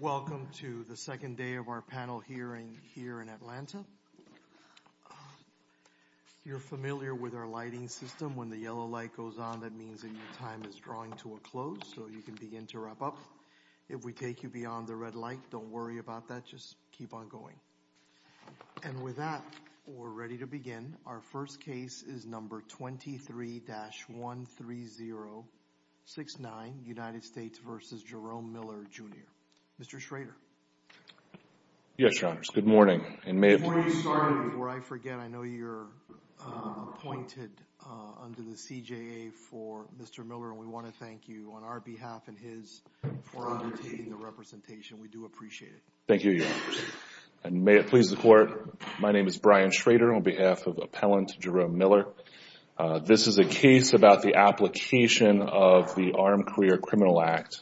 Welcome to the second day of our panel hearing here in Atlanta. You're familiar with our lighting system. When the yellow light goes on, that means that your time is drawing to a close, so you can begin to wrap up. If we take you beyond the red light, don't worry about that, just keep on going. And with that, we're ready to begin. Our first case is number 23-13069, United States v. Jerome Miller, Jr. Mr. Schrader. Yes, Your Honors. Good morning. Before you start, before I forget, I know you're appointed under the CJA for Mr. Miller, and we want to thank you on our behalf and his for undertaking the representation. We do appreciate it. Thank you, Your Honors. And may it please the Court, my name is Brian Schrader. On behalf of Appellant Jerome Miller, this is a case about the application of the Armed Career Criminal Act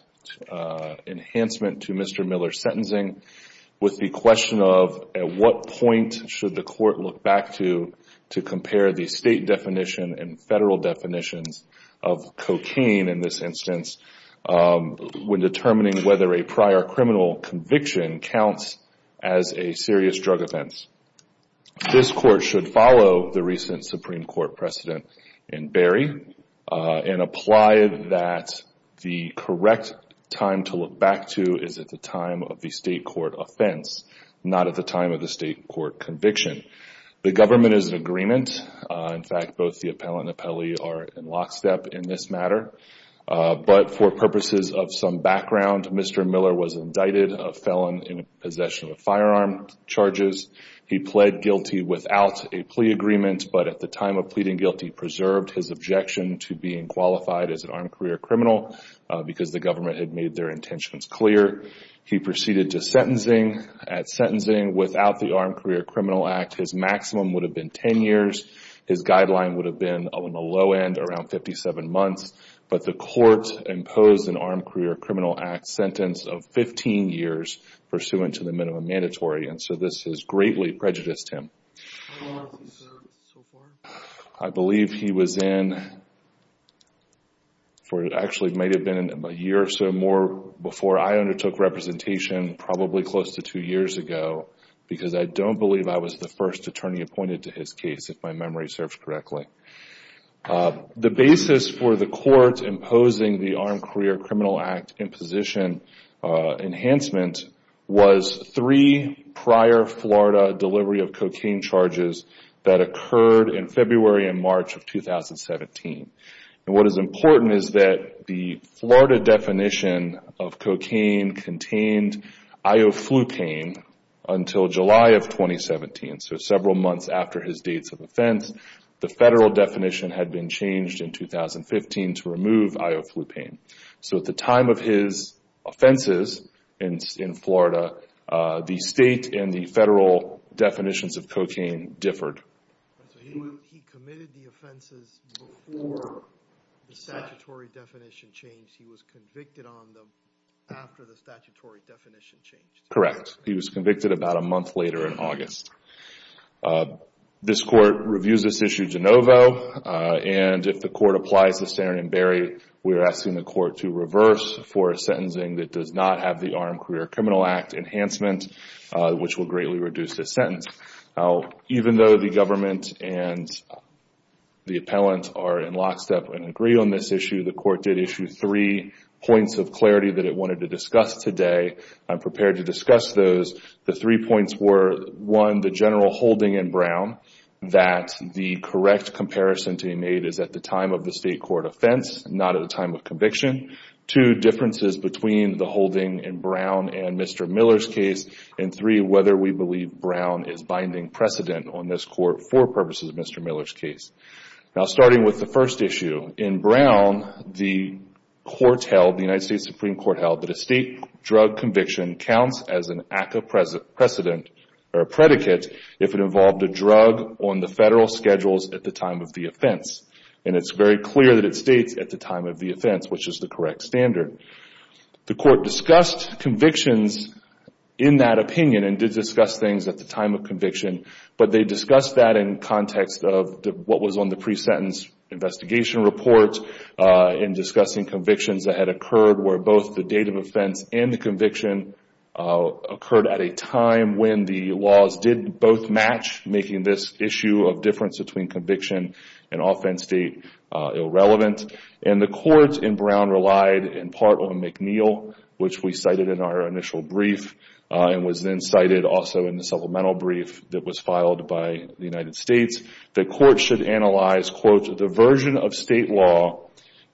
enhancement to Mr. Miller's sentencing with the question of at what point should the Court look back to to compare the state definition and federal definitions of cocaine in this instance when determining whether a prior criminal conviction counts as a serious drug offense. This Court should follow the recent Supreme Court precedent in Berry and apply that the correct time to look back to is at the time of the state court offense, not at the time of the state court conviction. The government is in agreement, in fact, both the appellant and appellee are in lockstep in this matter, but for purposes of some background, Mr. Miller was indicted a felon in possession of firearm charges. He pled guilty without a plea agreement, but at the time of pleading guilty, preserved his objection to being qualified as an armed career criminal because the government had made their intentions clear. He proceeded to sentencing. At sentencing, without the Armed Career Criminal Act, his maximum would have been 10 years. His guideline would have been on the low end around 57 months, but the Court imposed an Armed Career Criminal Act sentence of 15 years pursuant to the minimum mandatory, and so this has greatly prejudiced him. I believe he was in for, it actually might have been a year or so more before I undertook representation probably close to two years ago because I don't believe I was the first attorney appointed to his case, if my memory serves correctly. The basis for the Court imposing the Armed Career Criminal Act in position enhancement was three prior Florida delivery of cocaine charges that occurred in February and March of 2017. What is important is that the Florida definition of cocaine contained ioflucane until July of 2017, so several months after his dates of offense. The federal definition had been changed in 2015 to remove ioflucane, so at the time of his offenses in Florida, the state and the federal definitions of cocaine differed. He committed the offenses before the statutory definition changed, he was convicted on them after the statutory definition changed? Correct. He was convicted about a month later in August. This Court reviews this issue de novo, and if the Court applies the standard and bury, we are asking the Court to reverse for a sentencing that does not have the Armed Career Criminal Act enhancement, which will greatly reduce this sentence. Even though the government and the appellant are in lockstep and agree on this issue, the Court did issue three points of clarity that it wanted to discuss today. I am prepared to discuss those. The three points were, one, the general holding in Brown that the correct comparison to be made is at the time of the state court offense, not at the time of conviction. Two, differences between the holding in Brown and Mr. Miller's case. And three, whether we believe Brown is binding precedent on this Court for purposes of Mr. Miller's case. Now, starting with the first issue, in Brown, the court held, the United States Supreme Court held that a state drug conviction counts as an ACCA precedent or a predicate if it involved a drug on the federal schedules at the time of the offense. And it's very clear that it states at the time of the offense, which is the correct standard. The Court discussed convictions in that opinion and did discuss things at the time of conviction, but they discussed that in context of what was on the pre-sentence investigation report in discussing convictions that had occurred where both the date of offense and the conviction occurred at a time when the laws did both match, making this issue of difference between conviction and offense date irrelevant. And the courts in Brown relied in part on McNeil, which we cited in our initial brief and was then cited also in the supplemental brief that was filed by the United States. The court should analyze, quote, the version of state law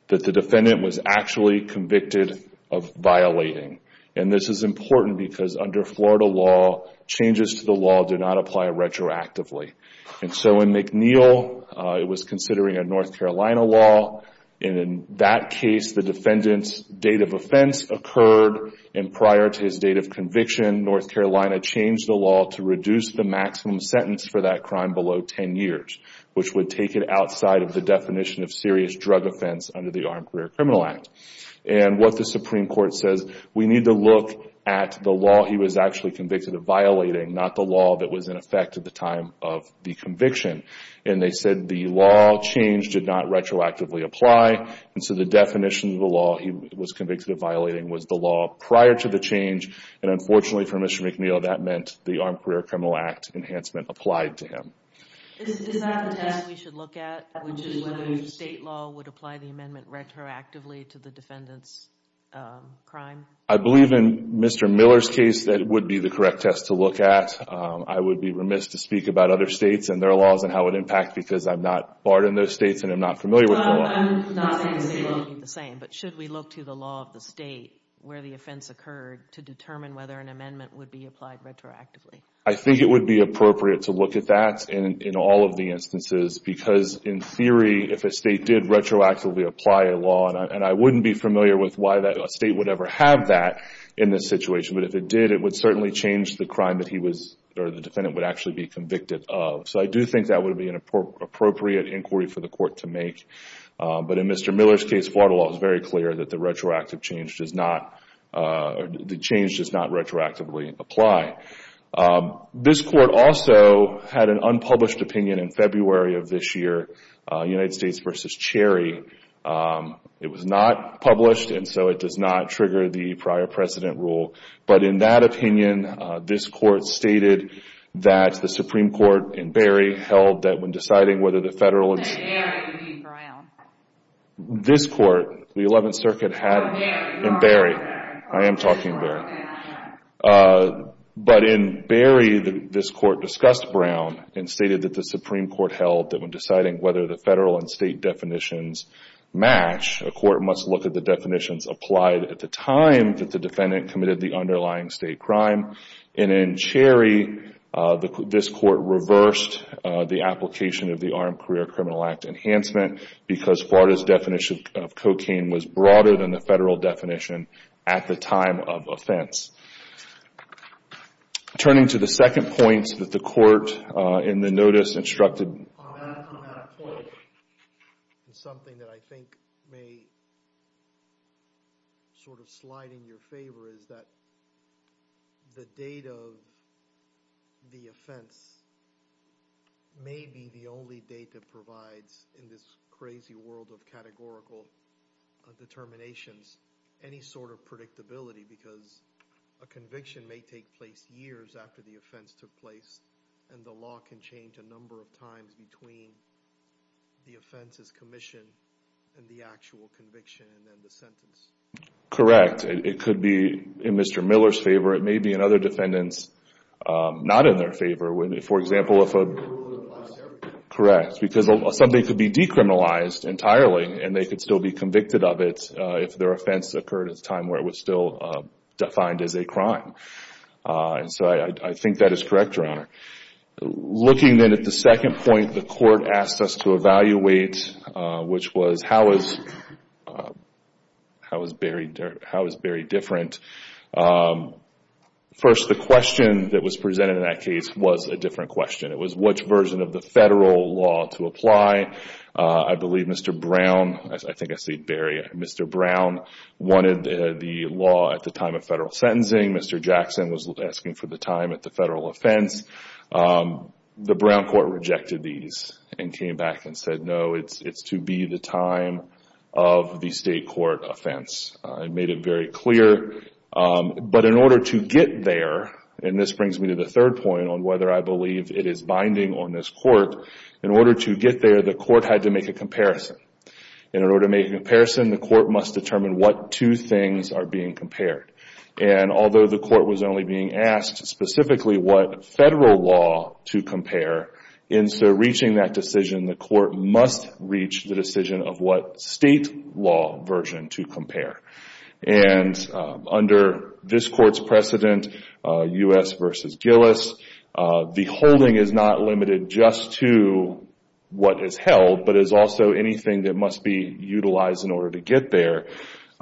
that the defendant was actually convicted of violating. And this is important because under Florida law, changes to the law do not apply retroactively. And so in McNeil, it was considering a North Carolina law, and in that case, the defendant's date of offense occurred and prior to his date of conviction, North Carolina changed the law to reduce the maximum sentence for that crime below 10 years, which would take it outside of the definition of serious drug offense under the Armed Career Criminal Act. And what the Supreme Court says, we need to look at the law he was actually convicted of violating, not the law that was in effect at the time of the conviction. And they said the law change did not retroactively apply, and so the definition of the law he was convicted of violating was the law prior to the change, and unfortunately for Mr. McNeil, that meant the Armed Career Criminal Act enhancement applied to him. Is that the test we should look at, which is whether state law would apply the amendment retroactively to the defendant's crime? I believe in Mr. Miller's case, that would be the correct test to look at. I would be remiss to speak about other states and their laws and how it would impact because I'm not part of those states and I'm not familiar with the law. I'm not saying the state law would be the same, but should we look to the law of the state where the offense occurred to determine whether an amendment would be applied retroactively? I think it would be appropriate to look at that in all of the instances because in theory, if a state did retroactively apply a law, and I wouldn't be familiar with why that state would ever have that in this situation, but if it did, it would certainly change the crime that he was, or the defendant would actually be convicted of. So I do think that would be an appropriate inquiry for the court to make, but in Mr. Miller's case, the change does not retroactively apply. This court also had an unpublished opinion in February of this year, United States v. Cherry. It was not published, and so it does not trigger the prior precedent rule. But in that opinion, this court stated that the Supreme Court in Berry held that when deciding whether the federal and state definitions match, a court must look at the definitions applied at the time that the defendant committed the underlying state crime, and in Cherry, this court reversed the application of the Armed Career Criminal Act Enhancement because Florida's definition of cocaine was broader than the federal definition at the time of Turning to the second point that the court in the notice instructed on that point, something that I think may sort of slide in your favor is that the date of the offense may be the only date that provides, in this crazy world of categorical determinations, any sort of predictability because a conviction may take place years after the offense took place, and the law can change a number of times between the offense's commission and the actual conviction and then the sentence. Correct. It could be in Mr. Miller's favor. It may be in other defendants' not in their favor. For example, if a... If they were in the last area. Correct. Because somebody could be decriminalized entirely, and they could still be convicted of it if their offense occurred at a time where it was still defined as a crime, and so I think that is correct, Your Honor. Looking then at the second point the court asked us to evaluate, which was how is Barry different? First, the question that was presented in that case was a different question. It was which version of the federal law to apply. I believe Mr. Brown, I think I say Barry, Mr. Brown wanted the law at the time of federal offense. The Brown court rejected these and came back and said, no, it's to be the time of the state court offense. I made it very clear, but in order to get there, and this brings me to the third point on whether I believe it is binding on this court, in order to get there, the court had to make a comparison. In order to make a comparison, the court must determine what two things are being compared. Although the court was only being asked specifically what federal law to compare, in so reaching that decision, the court must reach the decision of what state law version to compare. Under this court's precedent, U.S. v. Gillis, the holding is not limited just to what is held but is also anything that must be utilized in order to get there.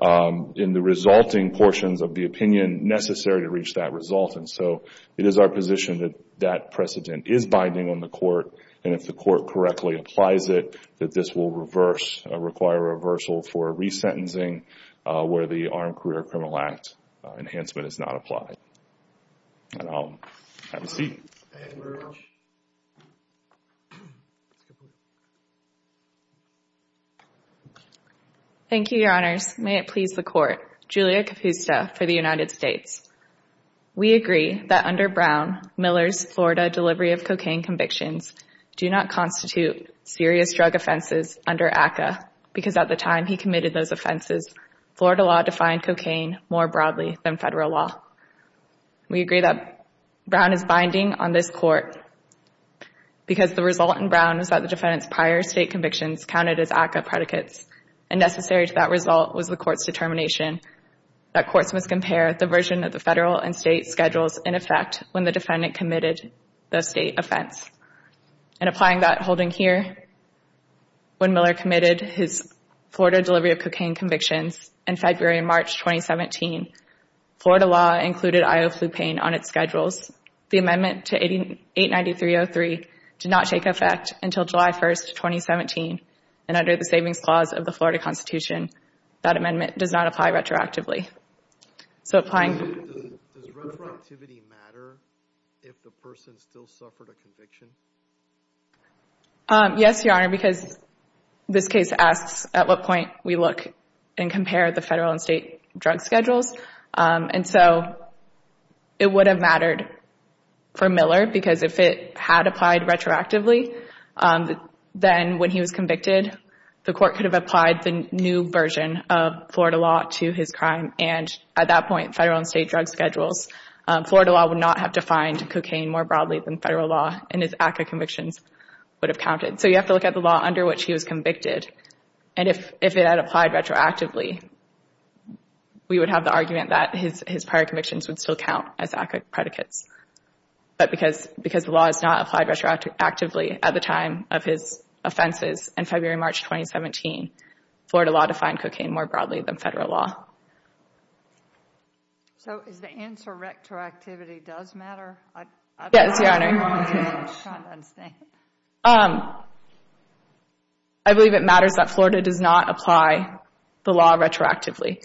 In the resulting portions of the opinion necessary to reach that result, and so it is our position that that precedent is binding on the court and if the court correctly applies it, that this will require a reversal for resentencing where the Armed Career Criminal Act enhancement is not applied. Have a seat. Thank you, Your Honors. May it please the court, Julia Capusta for the United States. We agree that under Brown, Miller's Florida delivery of cocaine convictions do not constitute serious drug offenses under ACCA because at the time he committed those offenses, Florida law defined cocaine more broadly than federal law. We agree that Brown is binding on this court because the result in Brown is that the defendant's prior state convictions counted as ACCA predicates and necessary to that result was the court's determination that courts must compare the version of the federal and state schedules in effect when the defendant committed the state offense. In applying that holding here, when Miller committed his Florida delivery of cocaine convictions in February and March 2017, Florida law included Ioflupane on its schedules. The amendment to 89303 did not take effect until July 1st, 2017, and under the Savings Clause of the Florida Constitution, that amendment does not apply retroactively. So applying Does retroactivity matter if the person still suffered a conviction? Yes, Your Honor, because this case asks at what point we look and compare the federal and state drug schedules, and so it would have mattered for Miller because if it had applied retroactively, then when he was convicted, the court could have applied the new version of Florida law to his crime, and at that point, federal and state drug schedules, Florida law would not have defined cocaine more broadly than federal law, and his ACCA convictions would have counted. So you have to look at the law under which he was convicted, and if it had applied retroactively, we would have the argument that his prior convictions would still count as ACCA predicates. But because the law is not applied retroactively at the time of his offenses in February and March 2017, Florida law defined cocaine more broadly than federal law. So is the answer retroactivity does matter? Yes, Your Honor. I believe it matters that Florida does not apply the law retroactively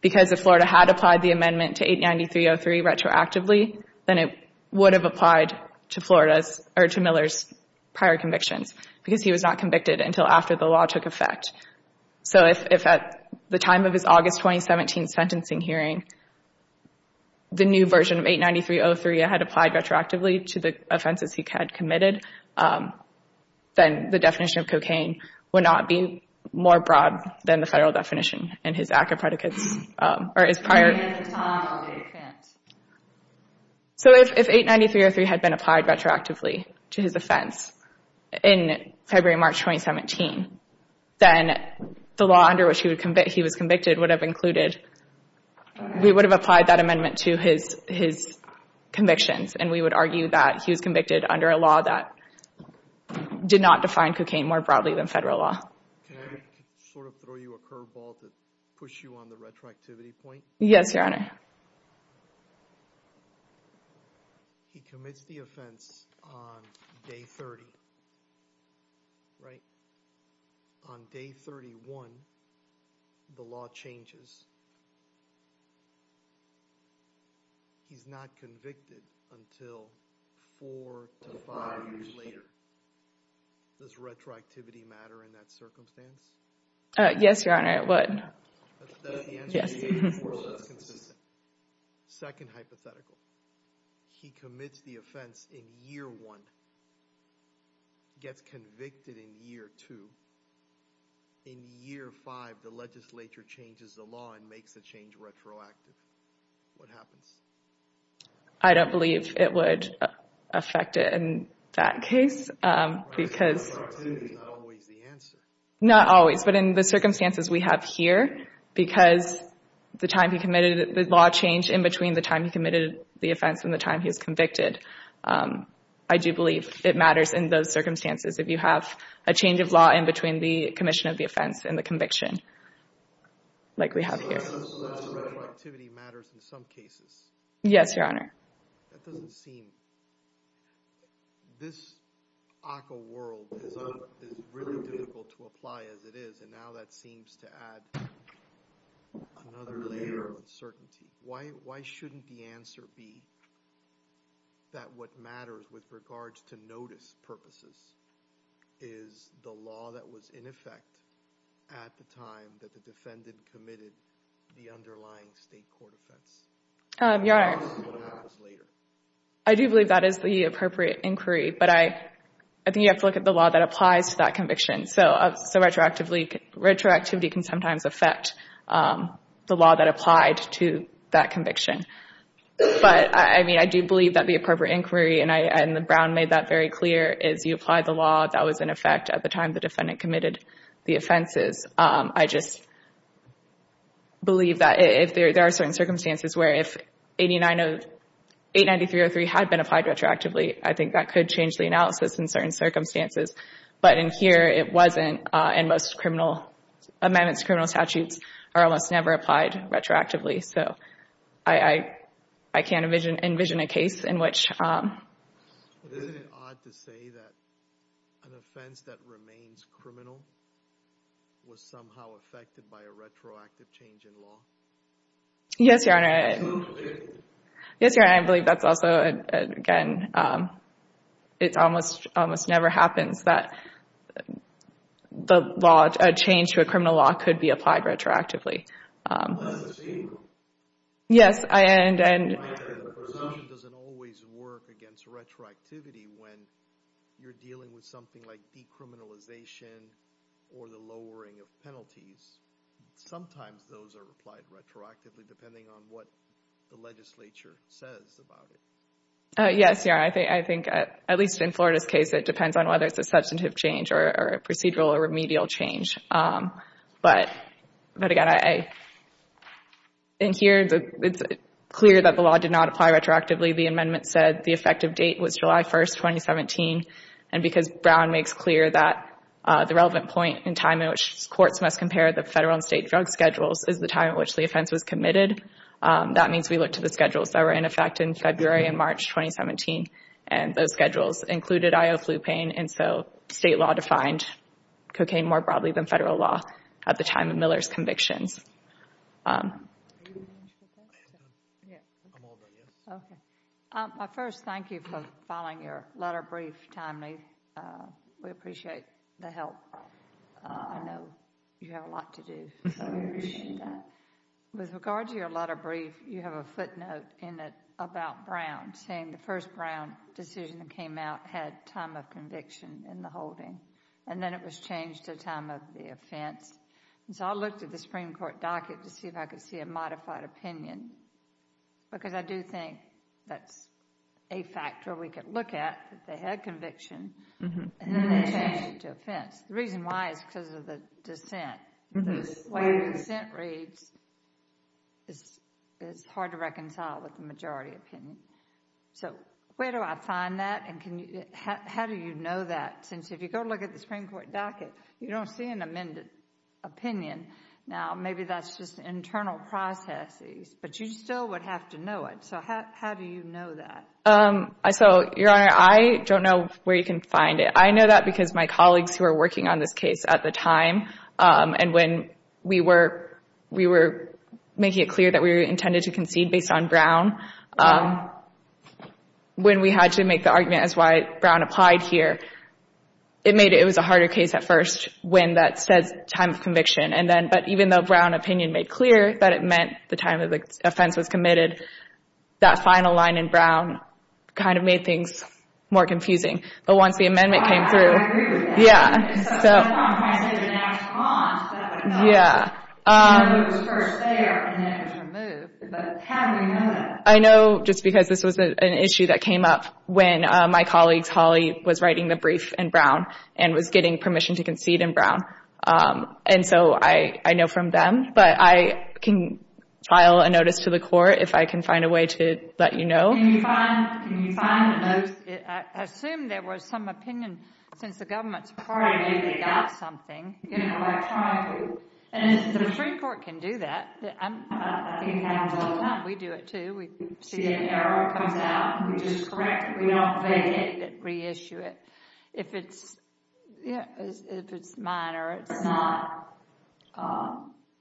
because if Florida had applied the amendment to 89303 retroactively, then it would have applied to Miller's prior convictions because he was not convicted until after the law took effect. So if at the time of his August 2017 sentencing hearing, the new version of 89303 had applied retroactively to the offenses he had committed, then the definition of cocaine would not be more broad than the federal definition and his ACCA predicates. So if 89303 had been applied retroactively to his offense in February and March 2017, then the law under which he was convicted would have included, we would have applied that amendment to his convictions, and we would argue that he was convicted under a law that did not define cocaine more broadly than federal law. Can I sort of throw you a curveball to push you on the retroactivity point? Yes, Your Honor. He commits the offense on day 30, right? On day 31, the law changes. He's not convicted until four to five years later. Does retroactivity matter in that circumstance? Yes, Your Honor, it would. Is that the answer you gave before that's consistent? Second hypothetical. He commits the offense in year one, gets convicted in year two. In year five, the legislature changes the law and makes the change retroactive. What happens? I don't believe it would affect it in that case because... Retroactivity is not always the answer. Not always, but in the circumstances we have here, because the time he committed, the law changed in between the time he committed the offense and the time he was convicted. I do believe it matters in those circumstances if you have a change of law in between the commission of the offense and the conviction like we have here. Retroactivity matters in some cases. Yes, Your Honor. That doesn't seem... This ACCA world is really difficult to apply as it is, and now that seems to add another layer of uncertainty. Why shouldn't the answer be that what matters with regards to notice purposes is the law that was in effect at the time that the defendant committed the underlying state court offense? Your Honor, I do believe that is the appropriate inquiry, but I think you have to look at the law that applies to that conviction. Retroactivity can sometimes affect the law that applied to that conviction. I do believe that the appropriate inquiry, and Brown made that very clear, is you apply the law that was in effect at the time the defendant committed the offenses. I just believe that there are certain circumstances where if 893.03 had been applied retroactively, I think that could change the analysis in certain circumstances, but in here it wasn't, and most amendments to criminal statutes are almost never applied retroactively. So I can't envision a case in which... Isn't it odd to say that an offense that remains criminal was somehow affected by a retroactive change in law? Yes, Your Honor. Absolutely. Yes, Your Honor. I believe that's also, again, it almost never happens that a change to a criminal law could be applied retroactively. That's the same rule. Yes, and... The presumption doesn't always work against retroactivity when you're dealing with something like decriminalization or the lowering of penalties. Sometimes those are applied retroactively depending on what the legislature says about it. Yes, Your Honor. I think, at least in Florida's case, it depends on whether it's a substantive change or a procedural or remedial change. But, again, in here it's clear that the law did not apply retroactively. The amendment said the effective date was July 1, 2017, and because Brown makes clear that the relevant point in time in which courts must compare the federal and state drug schedules is the time in which the offense was committed, that means we looked at the schedules that were in effect in February and March 2017, and those schedules included ioflupine. And so state law defined cocaine more broadly than federal law at the time of Miller's convictions. I first thank you for filing your letter brief timely. We appreciate the help. I know you have a lot to do, so we appreciate that. With regard to your letter brief, you have a footnote in it about Brown, saying the first Brown decision that came out had time of conviction in the holding, and then it was changed to time of the offense. And so I looked at the Supreme Court docket to see if I could see a modified opinion, because I do think that's a factor we could look at, that they had conviction, and then they changed it to offense. The reason why is because of the dissent. The dissent rates is hard to reconcile with the majority opinion. So where do I find that, and how do you know that? Since if you go look at the Supreme Court docket, you don't see an amended opinion. Now, maybe that's just internal processes, but you still would have to know it. So how do you know that? So, Your Honor, I don't know where you can find it. I know that because my colleagues who were working on this case at the time, and when we were making it clear that we were intended to concede based on Brown, when we had to make the argument as to why Brown applied here, it was a harder case at first when that says time of conviction, but even though Brown opinion made clear that it meant the time that the offense was committed, that final line in Brown kind of made things more confusing. But once the amendment came through. I agree with that. Yeah. So that's why I'm trying to get an answer on. Yeah. I know it was first there, and then it was removed. But how do you know that? I know just because this was an issue that came up when my colleagues, Holly, was writing the brief in Brown and was getting permission to concede in Brown. And so I know from them, but I can file a notice to the court if I can find a way to let you know. Can you find the notes? I assume there was some opinion since the government's party got something. You know, I try to. And the Supreme Court can do that. I think it happens all the time. We do it, too. We see an error, it comes out, and we just correct it. We don't evade it, reissue it. If it's minor, it's not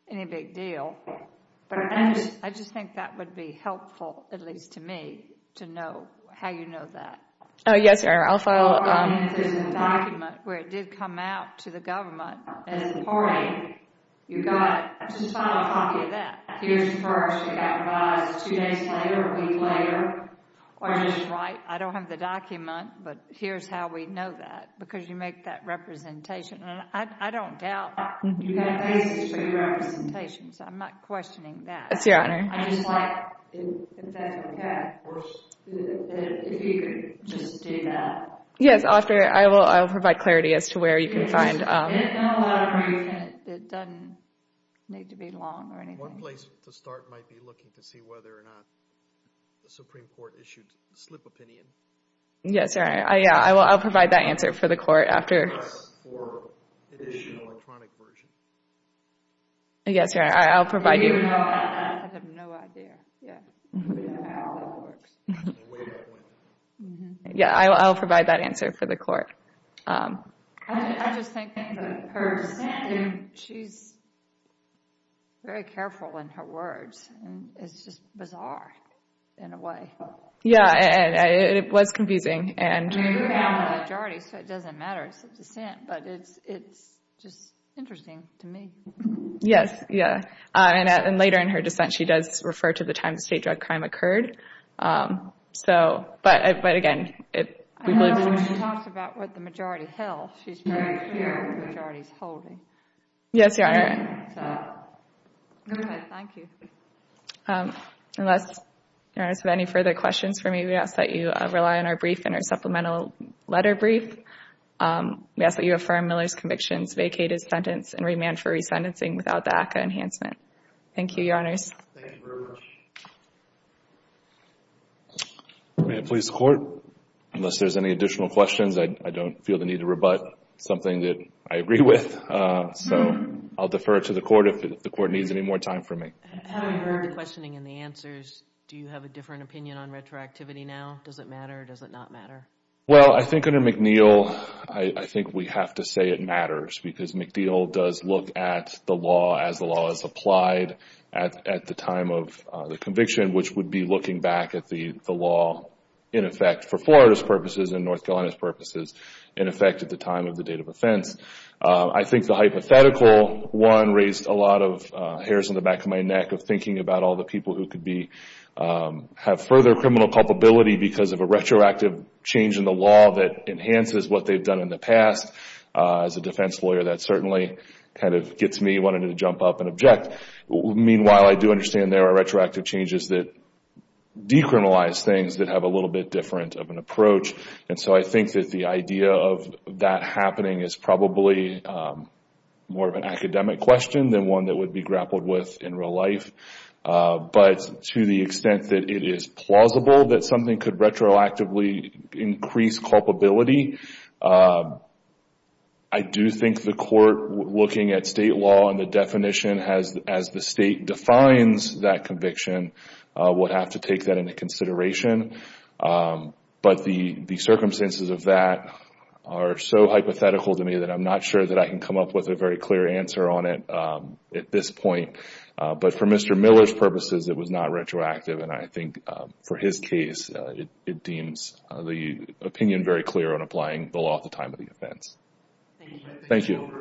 any big deal. I just think that would be helpful, at least to me, to know how you know that. Oh, yes, sir. I'll file a notice. If there's a document where it did come out to the government as the party, you've got to file a copy of that. Here's the first. It got revised two days later, a week later. Or you just write, I don't have the document, but here's how we know that, because you make that representation. And I don't doubt that. You've got basis for your representations. I'm not questioning that. Yes, Your Honor. I just like, if that's what you have, of course, if you could just do that. Yes, I'll provide clarity as to where you can find. It doesn't need to be long or anything. One place to start might be looking to see whether or not the Supreme Court issued a slip opinion. Yes, Your Honor. I'll provide that answer for the court after. Yes, Your Honor. I'll provide you. I have no idea how that works. I'll provide that answer for the court. I just think that she's very careful in her words. It's just bizarre in a way. Yeah, it was confusing. You have a majority, so it doesn't matter. It's a dissent, but it's just interesting to me. Yes, yeah. And later in her dissent, she does refer to the time the state drug crime occurred. But again, we've lived in. I know when she talks about what the majority held, she's very clear what the majority is holding. Yes, Your Honor. Okay, thank you. Unless Your Honor has any further questions for me, we ask that you rely on our brief and our supplemental letter brief. We ask that you affirm Miller's convictions, vacate his sentence, and remand for resentencing without the ACCA enhancement. Thank you, Your Honors. Thank you very much. May it please the Court, unless there's any additional questions, I don't feel the need to rebut something that I agree with. So I'll defer it to the Court if the Court needs any more time from me. Having heard the questioning and the answers, do you have a different opinion on retroactivity now? Does it matter or does it not matter? Well, I think under McNeil, I think we have to say it matters because McNeil does look at the law as the law is applied at the time of the conviction, which would be looking back at the law in effect for Florida's purposes and North Carolina's purposes in effect at the time of the date of offense. I think the hypothetical one raised a lot of hairs on the back of my neck of thinking about all the people who could have further criminal culpability because of a retroactive change in the law that enhances what they've done in the past. As a defense lawyer, that certainly kind of gets me wanting to jump up and object. Meanwhile, I do understand there are retroactive changes that decriminalize things that have a little bit different of an approach. And so I think that the idea of that happening is probably more of an academic question than one that would be grappled with in real life. But to the extent that it is plausible that something could retroactively increase culpability, I do think the court looking at state law and the definition as the state defines that conviction would have to take that into consideration. But the circumstances of that are so hypothetical to me that I'm not sure that I can come up with a very clear answer on it at this point. But for Mr. Miller's purposes, it was not retroactive. And I think for his case, it deems the opinion very clear on applying the law at the time of the offense. Thank you.